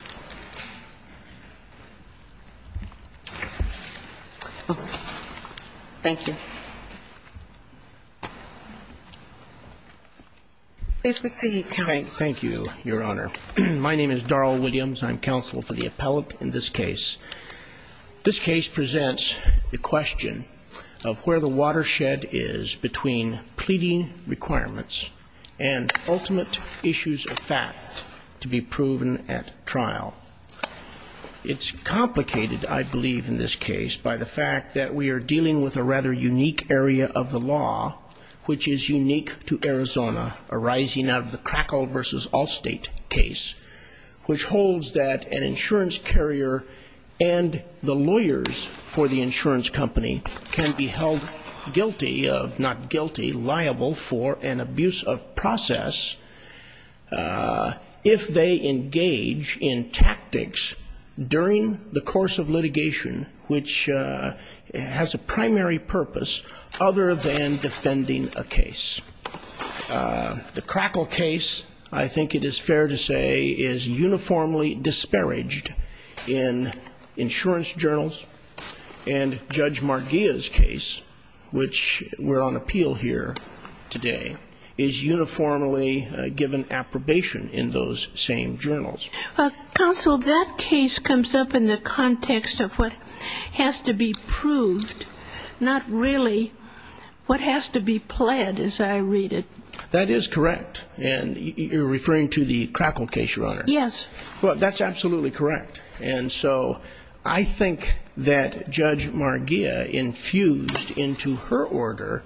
Department. Thank you. Please proceed, counsel. Thank you, Your Honor. My name is Daryl Williams. I'm counsel for the appellant in this case. This case presents the question of where the watershed is between pleading requirements and ultimate issues of fact to be proven at trial. It's complicated, I believe, in this case by the fact that we are dealing with a rather unique area of the law, which is unique to Arizona, arising out of the Crackle v. Allstate case, which holds that an insurance carrier and the lawyers for the insurance company can be held guilty of, not guilty, liable for an abuse of process if they engage in tactics during the course of litigation, which has a primary purpose other than defending a case. The Crackle case, I think it is fair to say, is uniformly disparaged in insurance journals, and Judge Marghia's case, which we're on appeal here today, is uniformly given approbation in those same journals. Counsel, that case comes up in the context of what has to be proved, not really what has to be pled, as I read it. That is correct. And you're referring to the Crackle case, Your Honor? Yes. Well, that's absolutely correct. And so I think that Judge Marghia infused into her order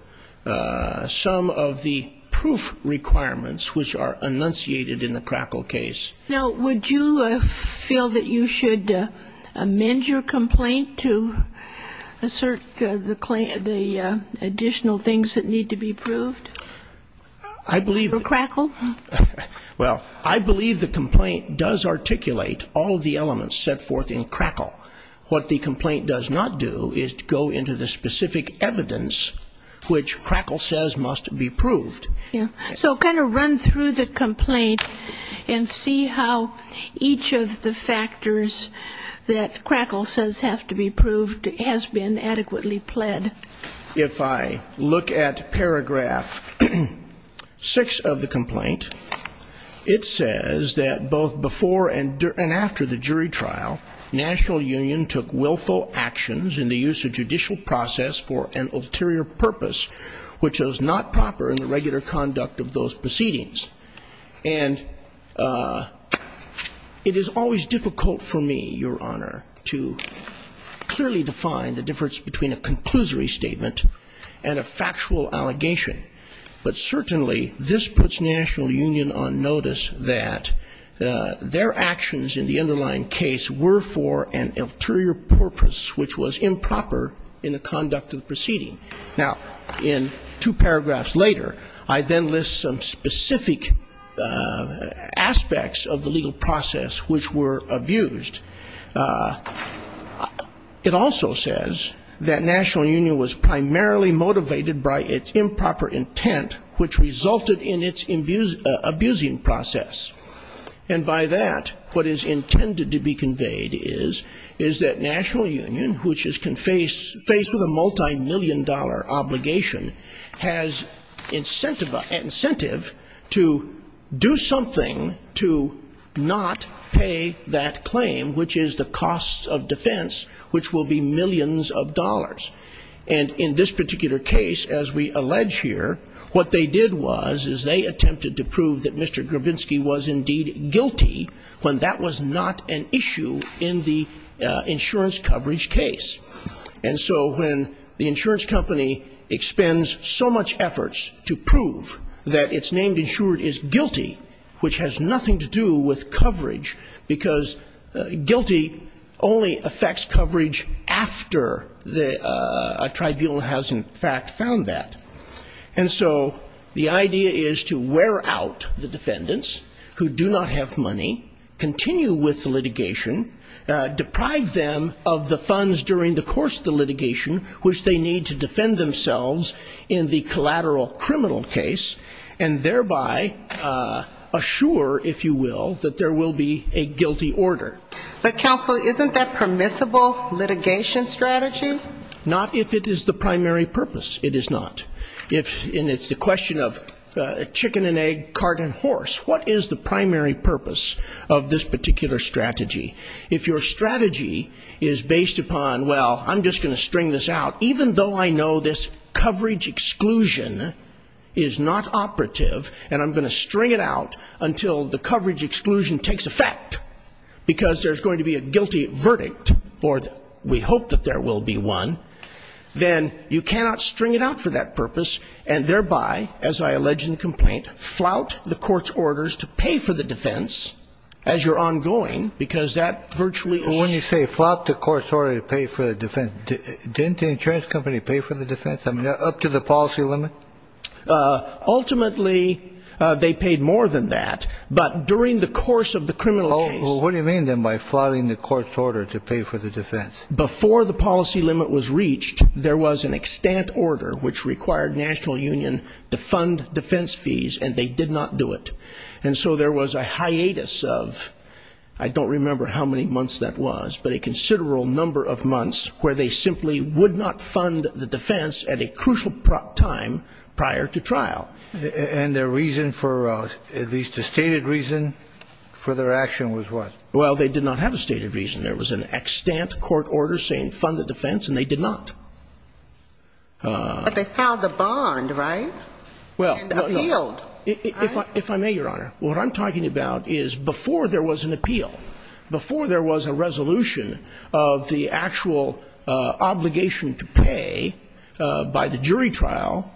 some of the proof requirements which are enunciated in the Crackle case. Now, would you feel that you should amend your complaint to assert the additional things that need to be proved for Crackle? Well, I believe the complaint does articulate all of the elements set forth in Crackle. What the complaint does not do is go into the specific evidence which Crackle says must be proved. So kind of run through the complaint and see how each of the factors that Crackle says have to be proved has been adequately pled. If I look at paragraph 6 of the complaint, it says that both before and after the jury trial, national union took willful actions in the use of judicial process for an ulterior purpose which was not proper in the regular conduct of those proceedings. And it is always difficult for me, Your Honor, to clearly define the difference between a conclusory statement and a factual allegation. But certainly this puts national union on notice that their actions in the underlying case were for an ulterior purpose which was improper in the conduct of the proceeding. Now, in two paragraphs later, I then list some specific aspects of the legal process which were abused. It also says that national union was primarily motivated by its improper intent which resulted in its abusing process. And by that, what is intended to be conveyed is that national union, which is faced with a multimillion dollar obligation, has incentive to do something to not pay that claim, which is the cost of defense, which will be millions of dollars. And in this particular case, as we allege here, what they did was is they attempted to prove that Mr. Grabinski was indeed guilty when that was not an issue in the insurance coverage case. And so when the insurance company expends so much efforts to prove that it's named insured as guilty, which has nothing to do with coverage, because guilty only affects coverage after a tribunal has, in fact, found that. And so the idea is to wear out the defendants who do not have money, continue with the litigation, deprive them of the funds during the litigation, which they need to defend themselves in the collateral criminal case, and thereby assure, if you will, that there will be a guilty order. But counsel, isn't that permissible litigation strategy? Not if it is the primary purpose. It is not. And it's the question of chicken and egg, cart and horse. What is the primary purpose of this particular strategy? If your strategy is based upon, well, I'm just going to string this out, even though I know this coverage exclusion is not operative, and I'm going to string it out until the coverage exclusion takes effect, because there's going to be a guilty verdict, or we hope that there will be one, then you cannot string it out for that purpose, and thereby, as I allege in the complaint, flout the court's orders to pay for the defense as you're ongoing, because that's the only way you're going to pay for the defense. When you say flout the court's order to pay for the defense, didn't the insurance company pay for the defense, up to the policy limit? Ultimately, they paid more than that, but during the course of the criminal case. What do you mean, then, by flouting the court's order to pay for the defense? Before the policy limit was reached, there was an extant order which required the national union to fund defense fees, and they did not do it. And so there was a hiatus of, I don't remember how many months that was, but a considerable number of months where they simply would not fund the defense at a crucial time prior to trial. And their reason for, at least a stated reason for their action was what? Well, they did not have a stated reason. There was an extant court order saying fund the defense, and they did not. But they filed a bond, right? And appealed. If I may, Your Honor, what I'm talking about is before there was an appeal, before there was a resolution of the actual obligation to pay by the jury trial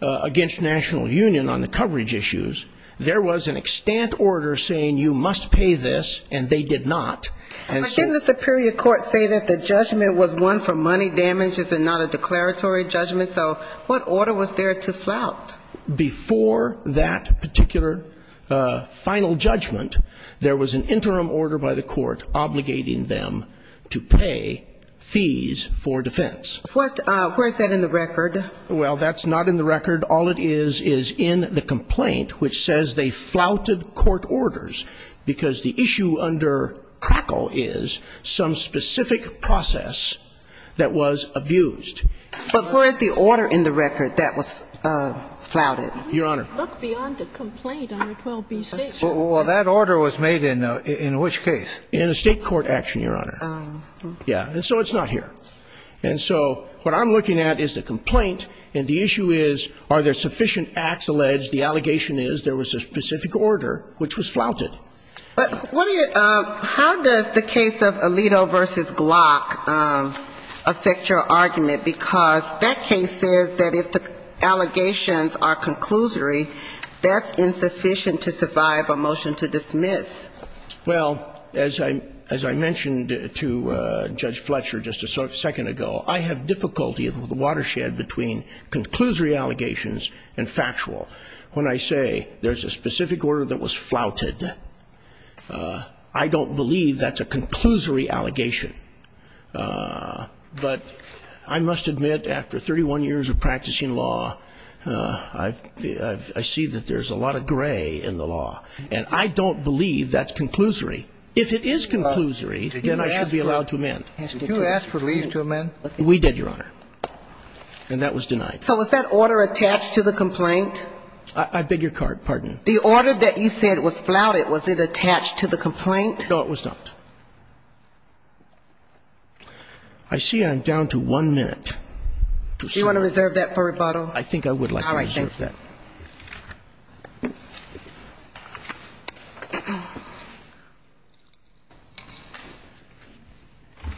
against national union on the coverage issues, there was an extant order saying you must pay this, and they did not. But didn't the superior court say that the judgment was one for money damages and not a declaratory judgment? So what order was there to flout? Before that particular final judgment, there was an interim order by the court obligating them to pay fees for defense. What, where is that in the record? Well, that's not in the record. All it is is in the complaint, which says they flouted court orders because the issue under crackle is some specific process that was abused. But where is the order in the record that was flouted? Your Honor. Well, that order was made in which case? In a state court action, Your Honor. And so it's not here. And so what I'm looking at is the complaint, and the issue is are there sufficient acts alleged, the allegation is there was a specific order which was flouted. But how does the case of Alito v. Glock affect your argument? Because that case says that if the allegations are conclusory, that's insufficient to survive a motion to dismiss. Well, as I mentioned to Judge Fletcher just a second ago, I have difficulty with the watershed between conclusory allegations and factual. When I say there's a specific order that was flouted, I don't believe that's a conclusory allegation. But I must admit, after 31 years of practicing law, I see that there's a lot of gray in the law. And I don't believe that's conclusory. If it is conclusory, then I should be allowed to amend. Did you ask for leave to amend? We did, Your Honor. And that was denied. So was that order attached to the complaint? I beg your pardon. The order that you said was flouted, was it attached to the complaint? No, it was not. I see I'm down to one minute. Do you want to reserve that for rebuttal? I think I would like to reserve that.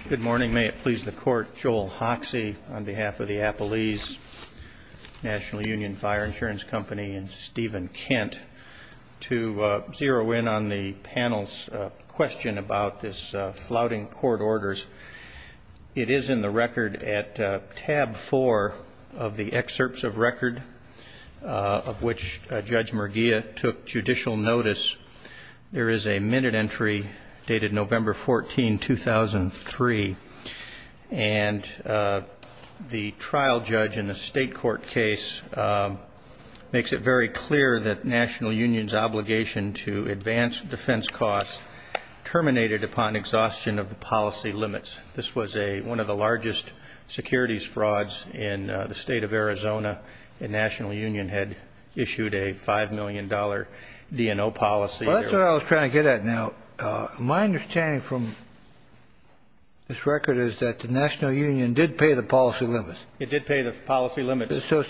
Good morning. May it please the Court, Joel Hoxie on behalf of the Appalese National Union Fire Insurance Company and Stephen Kent. To zero in on the panel's question about this flouting court orders, it is in the record at tab four of the excerpts of record. Of which Judge Merguia took judicial notice. There is a minute entry dated November 14, 2003. And the trial judge in the state court case makes it very clear that National Union's obligation to advance defense costs terminated upon exhaustion of the policy limits. This was one of the largest securities frauds in the state of Arizona. The National Union had issued a $5 million DNO policy. That's what I was trying to get at now. My understanding from this record is that the National Union did pay the policy limits. It did pay the policy limits. So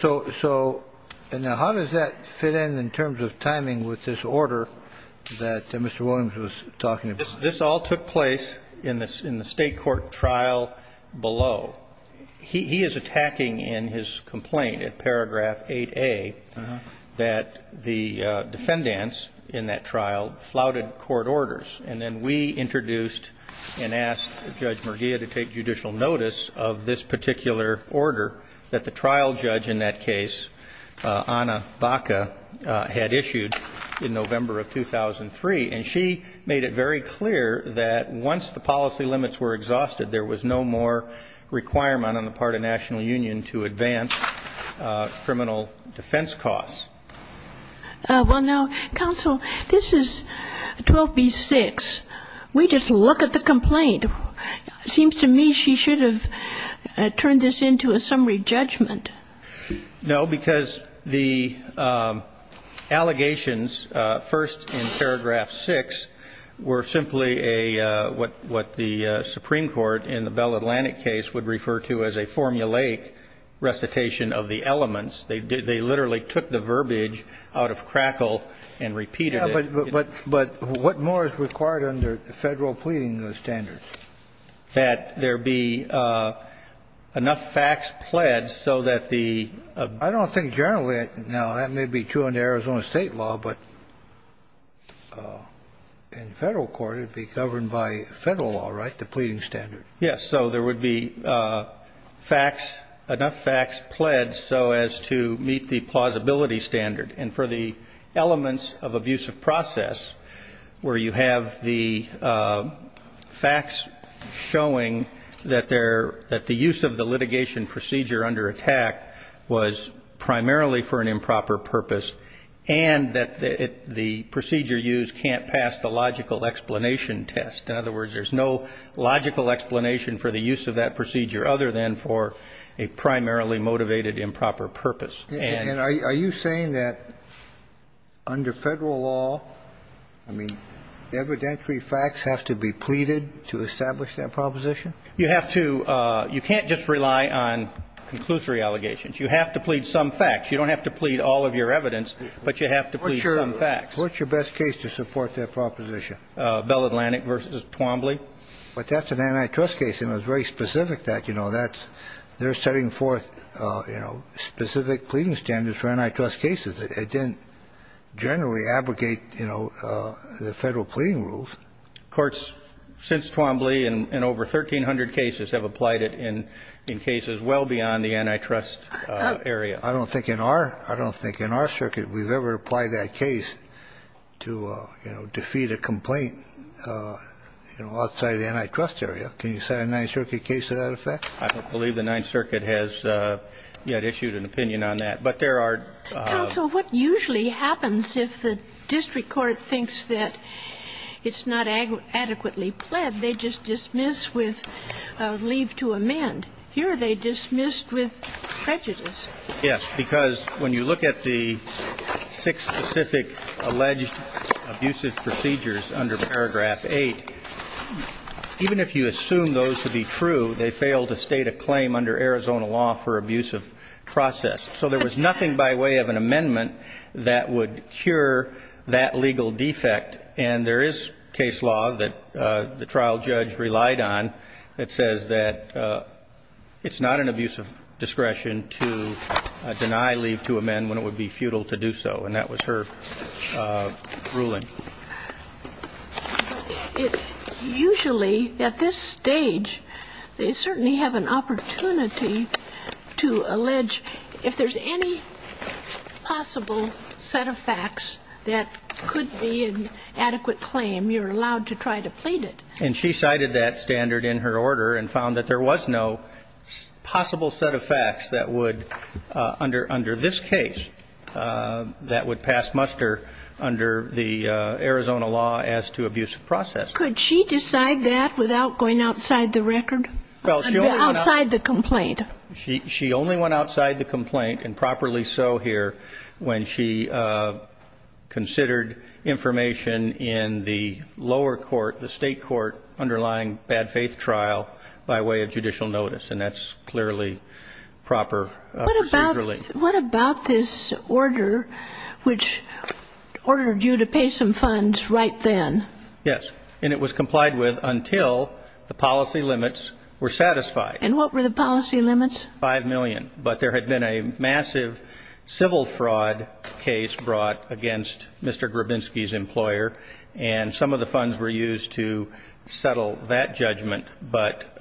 how does that fit in in terms of timing with this order that Mr. Williams was talking about? This all took place in the state court trial below. He is attacking in his complaint at paragraph 8A that the defendants in that trial flouted court orders. And then we introduced and asked Judge Merguia to take judicial notice of this particular order that the trial judge in that case, Anna Baca, had issued in November of 2003. And she made it very clear that once the policy limits were exhausted, there was no more requirement on the part of National Union to advance criminal defense costs. Well, now, counsel, this is 12B-6. We just look at the complaint. It seems to me she should have turned this into a summary judgment. No, because the allegations first in paragraph 6 were simply what the Supreme Court in the Bell Atlantic case would refer to as a formulaic recitation of the elements. They literally took the verbiage out of crackle and repeated it. But what more is required under federal pleading standards? That there be enough facts pledged so that the ---- I don't think generally, now, that may be true under Arizona state law, but in federal court it would be governed by federal law, right, the pleading standard? Yes. So there would be facts, enough facts pledged so as to meet the plausibility standard. And for the elements of abusive process, where you have the facts showing that the use of the litigation procedure under attack was primarily for an improper purpose, and that the procedure used can't pass the logical explanation test. In other words, there's no logical explanation for the use of that procedure other than for a primarily motivated improper purpose. And are you saying that under federal law, I mean, evidentiary facts have to be pleaded to establish that proposition? You have to ---- you can't just rely on conclusory allegations. You have to plead some facts. You don't have to plead all of your evidence, but you have to plead some facts. What's your best case to support that proposition? Bell Atlantic v. Twombly. But that's an antitrust case, and it's very specific that, you know, that's ---- they're setting forth, you know, specific pleading standards for antitrust cases. It didn't generally abrogate, you know, the federal pleading rules. Courts since Twombly and over 1,300 cases have applied it in cases well beyond the antitrust area. I don't think in our ---- I don't think in our circuit we've ever applied that case to, you know, defeat a complaint, you know, outside of the antitrust area. Can you set a Ninth Circuit case to that effect? I don't believe the Ninth Circuit has yet issued an opinion on that. But there are ---- Counsel, what usually happens if the district court thinks that it's not adequately pled, they just dismiss with leave to amend. That's because when you look at the six specific alleged abusive procedures under Paragraph 8, even if you assume those to be true, they fail to state a claim under Arizona law for abusive process. So there was nothing by way of an amendment that would cure that legal defect. And there is case law that the trial judge relied on that says that it's not an abusive discretion to dismiss. It's not an abusive discretion to deny leave to amend when it would be futile to do so. And that was her ruling. Usually, at this stage, they certainly have an opportunity to allege if there's any possible set of facts that could be an adequate claim, you're allowed to try to plead it. And she cited that standard in her order and found that there was no possible set of facts that would, under this case, that would pass muster under the Arizona law as to abusive process. Could she decide that without going outside the record, outside the complaint? She only went outside the complaint, and properly so here, when she considered information in the lower court, the state court, underlying bad faith trial by way of judicial notice. And that's clearly proper procedure. What about this order which ordered you to pay some funds right then? Yes. And it was complied with until the policy limits were satisfied. And what were the policy limits? Five million. But there had been a massive civil fraud case brought against Mr. Grabinski's employer. And some of the funds were used to settle that judgment. But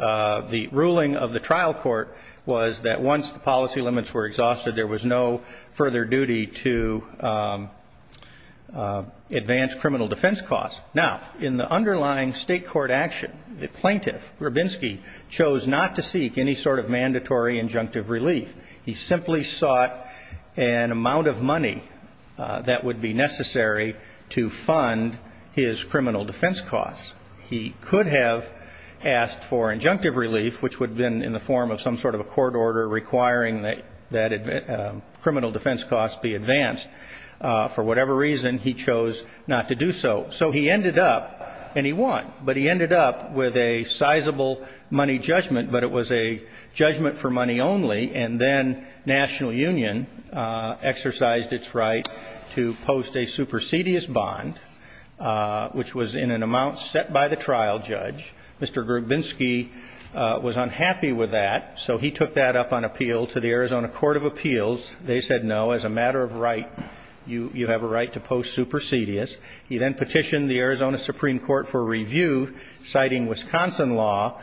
the ruling of the trial court was that once the policy limits were exhausted, there was no further duty to advance criminal defense costs. Now, in the underlying state court action, the plaintiff, Grabinski, chose not to seek any sort of mandatory compensation. He simply sought an amount of money that would be necessary to fund his criminal defense costs. He could have asked for injunctive relief, which would have been in the form of some sort of a court order requiring that criminal defense costs be advanced. For whatever reason, he chose not to do so. So he ended up, and he won, but he ended up with a sizable money judgment, but it was a judgment for money only. And then National Union exercised its right to post a supersedious bond, which was in an amount set by the trial judge. Mr. Grabinski was unhappy with that, so he took that up on appeal to the Arizona Court of Appeals. They said, no, as a matter of right, you have a right to post supersedious. He then petitioned the Arizona Supreme Court for review, citing Wisconsin law,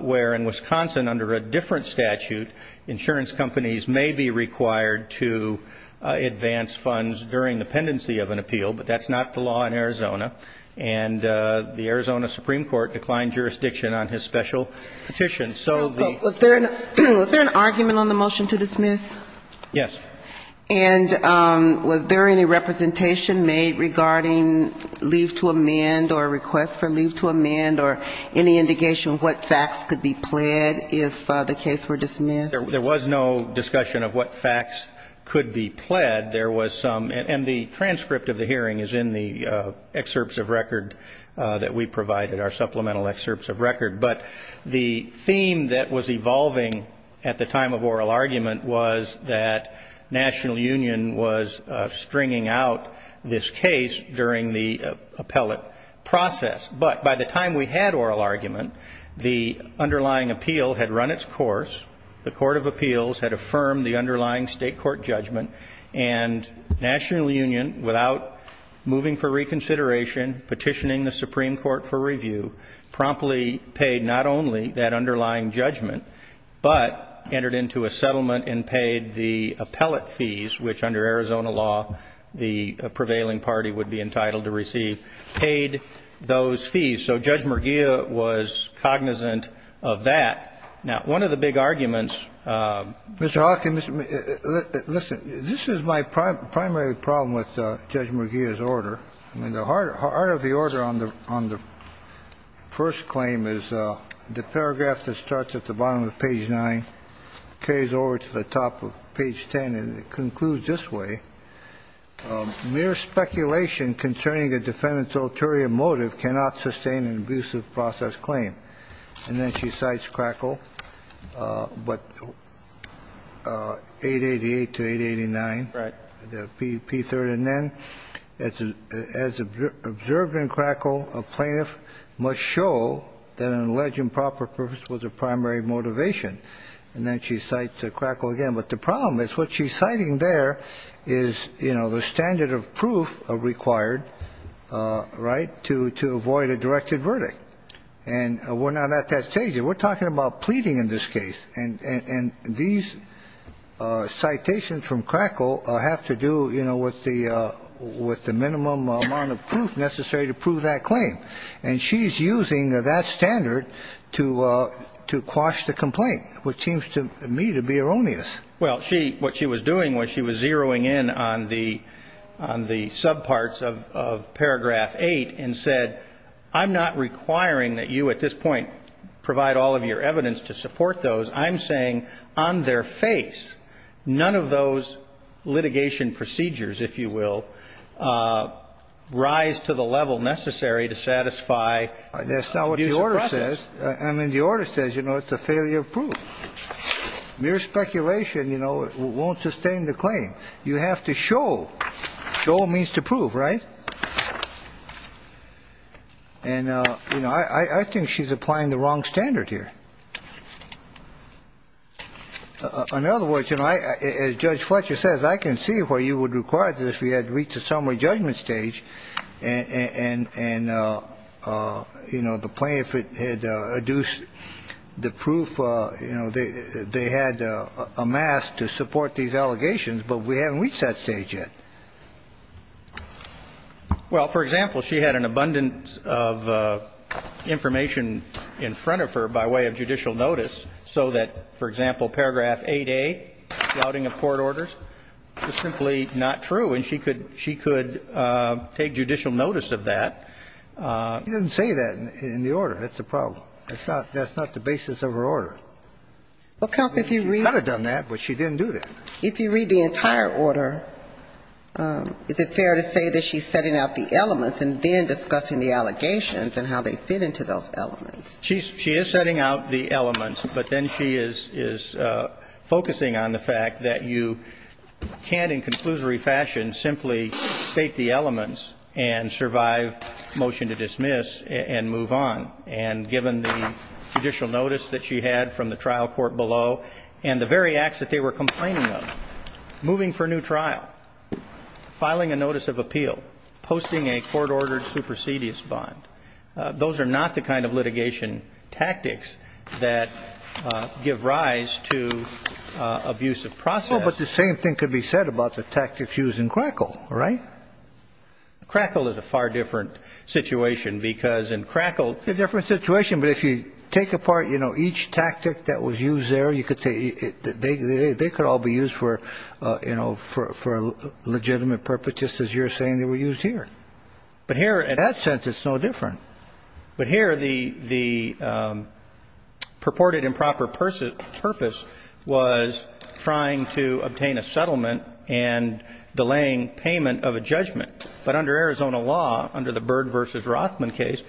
where in Wisconsin, under a different statute, insurance companies may be required to advance funds during the pendency of an appeal, but that's not the law in Arizona. And the Arizona Supreme Court declined jurisdiction on his special petition. And so the ---- Was there an argument on the motion to dismiss? Yes. And was there any representation made regarding leave to amend or request for leave to amend or any indication of what facts could be pled if the case were dismissed? There was no discussion of what facts could be pled. The scheme that was evolving at the time of oral argument was that National Union was stringing out this case during the appellate process. But by the time we had oral argument, the underlying appeal had run its course, the Court of Appeals had affirmed the underlying state court judgment, and National Union, without moving for reconsideration, petitioning the Supreme Court for review, promptly paid not only that underlying appeal, but the underlying judgment, but entered into a settlement and paid the appellate fees, which under Arizona law, the prevailing party would be entitled to receive, paid those fees. So Judge Murgia was cognizant of that. Now, one of the big arguments ---- Listen, this is my primary problem with Judge Murgia's order. I mean, the heart of the order on the first claim is the paragraph that starts at the bottom of page 9, carries over to the top of page 10, and it concludes this way. Mere speculation concerning a defendant's ulterior motive cannot sustain an abusive process claim. And then she cites Crackle, but 888 to 889, the P3rd. And then, as observed in Crackle, a plaintiff must show that an alleged improper purpose was a primary motivation. And then she cites Crackle again, but the problem is what she's citing there is, you know, the standard of proof required, right, to avoid a directed verdict. And we're not at that stage. We're talking about pleading in this case, and these citations from Crackle have to do, you know, with the minimum amount of proof necessary to prove that claim. And she's using that standard to quash the complaint, which seems to me to be erroneous. Well, what she was doing was she was zeroing in on the subparts of paragraph 8 and said, I'm not requiring that you at this point provide all of your evidence to support those. I'm saying on their face, none of those litigation procedures, if you will, rise to the level necessary to satisfy an abusive process. That's not what the order says. I mean, the order says, you know, it's a failure of proof. Mere speculation, you know, won't sustain the claim. You have to show. Show means to prove, right? And, you know, I think she's applying the wrong standard here. In other words, you know, as Judge Fletcher says, I can see where you would require this if we had reached a summary judgment stage. And, you know, the plaintiff had adduced the proof. You know, they had amassed to support these allegations, but we haven't reached that stage yet. Well, for example, she had an abundance of information in front of her by way of judicial notice, so that, for example, paragraph 8A, flouting of court orders, is simply not true. And she could take judicial notice of that. She didn't say that in the order. That's the problem. That's not the basis of her order. She could have done that, but she didn't do that. If you read the entire order, is it fair to say that she's setting out the elements and then discussing the allegations and how they fit into those elements? She is setting out the elements, but then she is focusing on the fact that you can't in conclusory fashion simply state the elements and survive motion to dismiss and move on, and given the judicial notice that she had from the trial court below and the very acts that they were complaining of, moving for a new trial, filing a notice of appeal, posting a court-ordered supersedious bond. Those are not the kind of litigation tactics that give rise to abusive process. No, but the same thing could be said about the tactics used in Crackle, right? Crackle is a far different situation, because in Crackle... It's a different situation, but if you take apart each tactic that was used there, you could say they could all be used for a legitimate purpose, just as you're saying they were used here. In that sense, it's no different. But here, the purported improper purpose was trying to obtain a settlement and delaying payment of a judgment. But under Arizona law, under the Byrd v. Rothman case,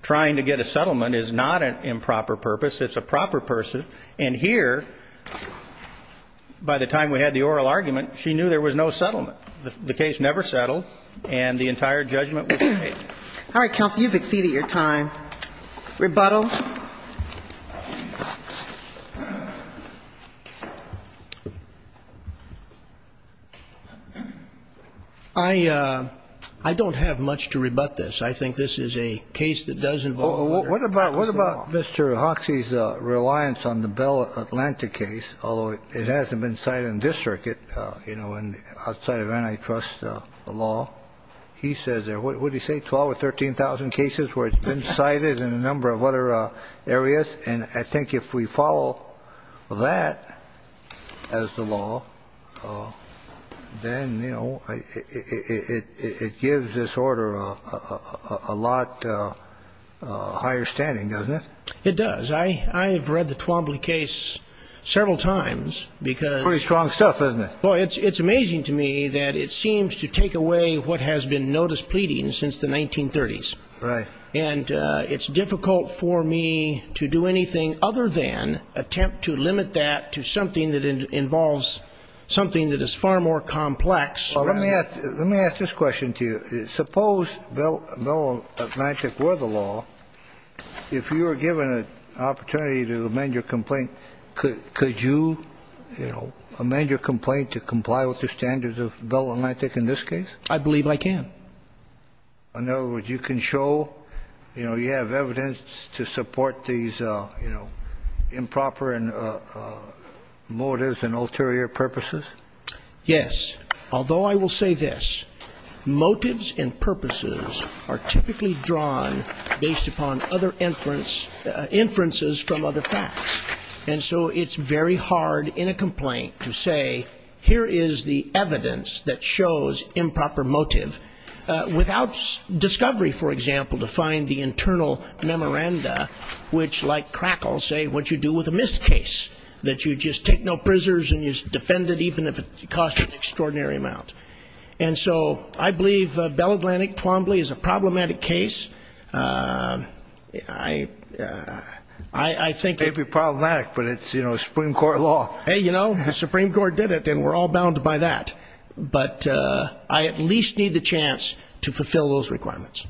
trying to get a settlement is not an improper purpose. It's a proper purpose. And here, by the time we had the oral argument, she knew there was no settlement. The case never settled, and the entire judgment was paid. All right, counsel, you've exceeded your time. Rebuttal. I don't have much to rebut this. I think this is a case that does involve... What about Mr. Hoxie's reliance on the Bell Atlantic case, although it hasn't been cited in this circuit, outside of antitrust law? He says there are, what did he say, 12 or 13,000 cases where it's been cited in a number of other areas? And I think if we follow that as the law, then it gives this order a lot higher standing, doesn't it? It does. I've read the Twombly case several times because... Pretty strong stuff, isn't it? Well, it's amazing to me that it seems to take away what has been notice pleading since the 1930s. Right. And it's difficult for me to do anything other than attempt to limit that to something that involves something that is far more complex. Well, let me ask this question to you. Suppose Bell Atlantic were the law. If you were given an opportunity to amend your complaint, could you amend your complaint to comply with the standards of Bell Atlantic in this case? I believe I can. In other words, you can show you have evidence to support these improper motives and ulterior purposes? Yes. Although I will say this. Motives and purposes are typically drawn based upon other inferences from other facts. And so it's very hard in a complaint to say, here is the evidence that shows improper motive without discovery, for example, to find the internal memoranda, which like crackles say what you do with a missed case, that you just take no prisoners and you defend it even if it costs an extraordinary amount. And so I believe Bell Atlantic, Twombly is a problematic case. I think... And we're all bound by that. But I at least need the chance to fulfill those requirements.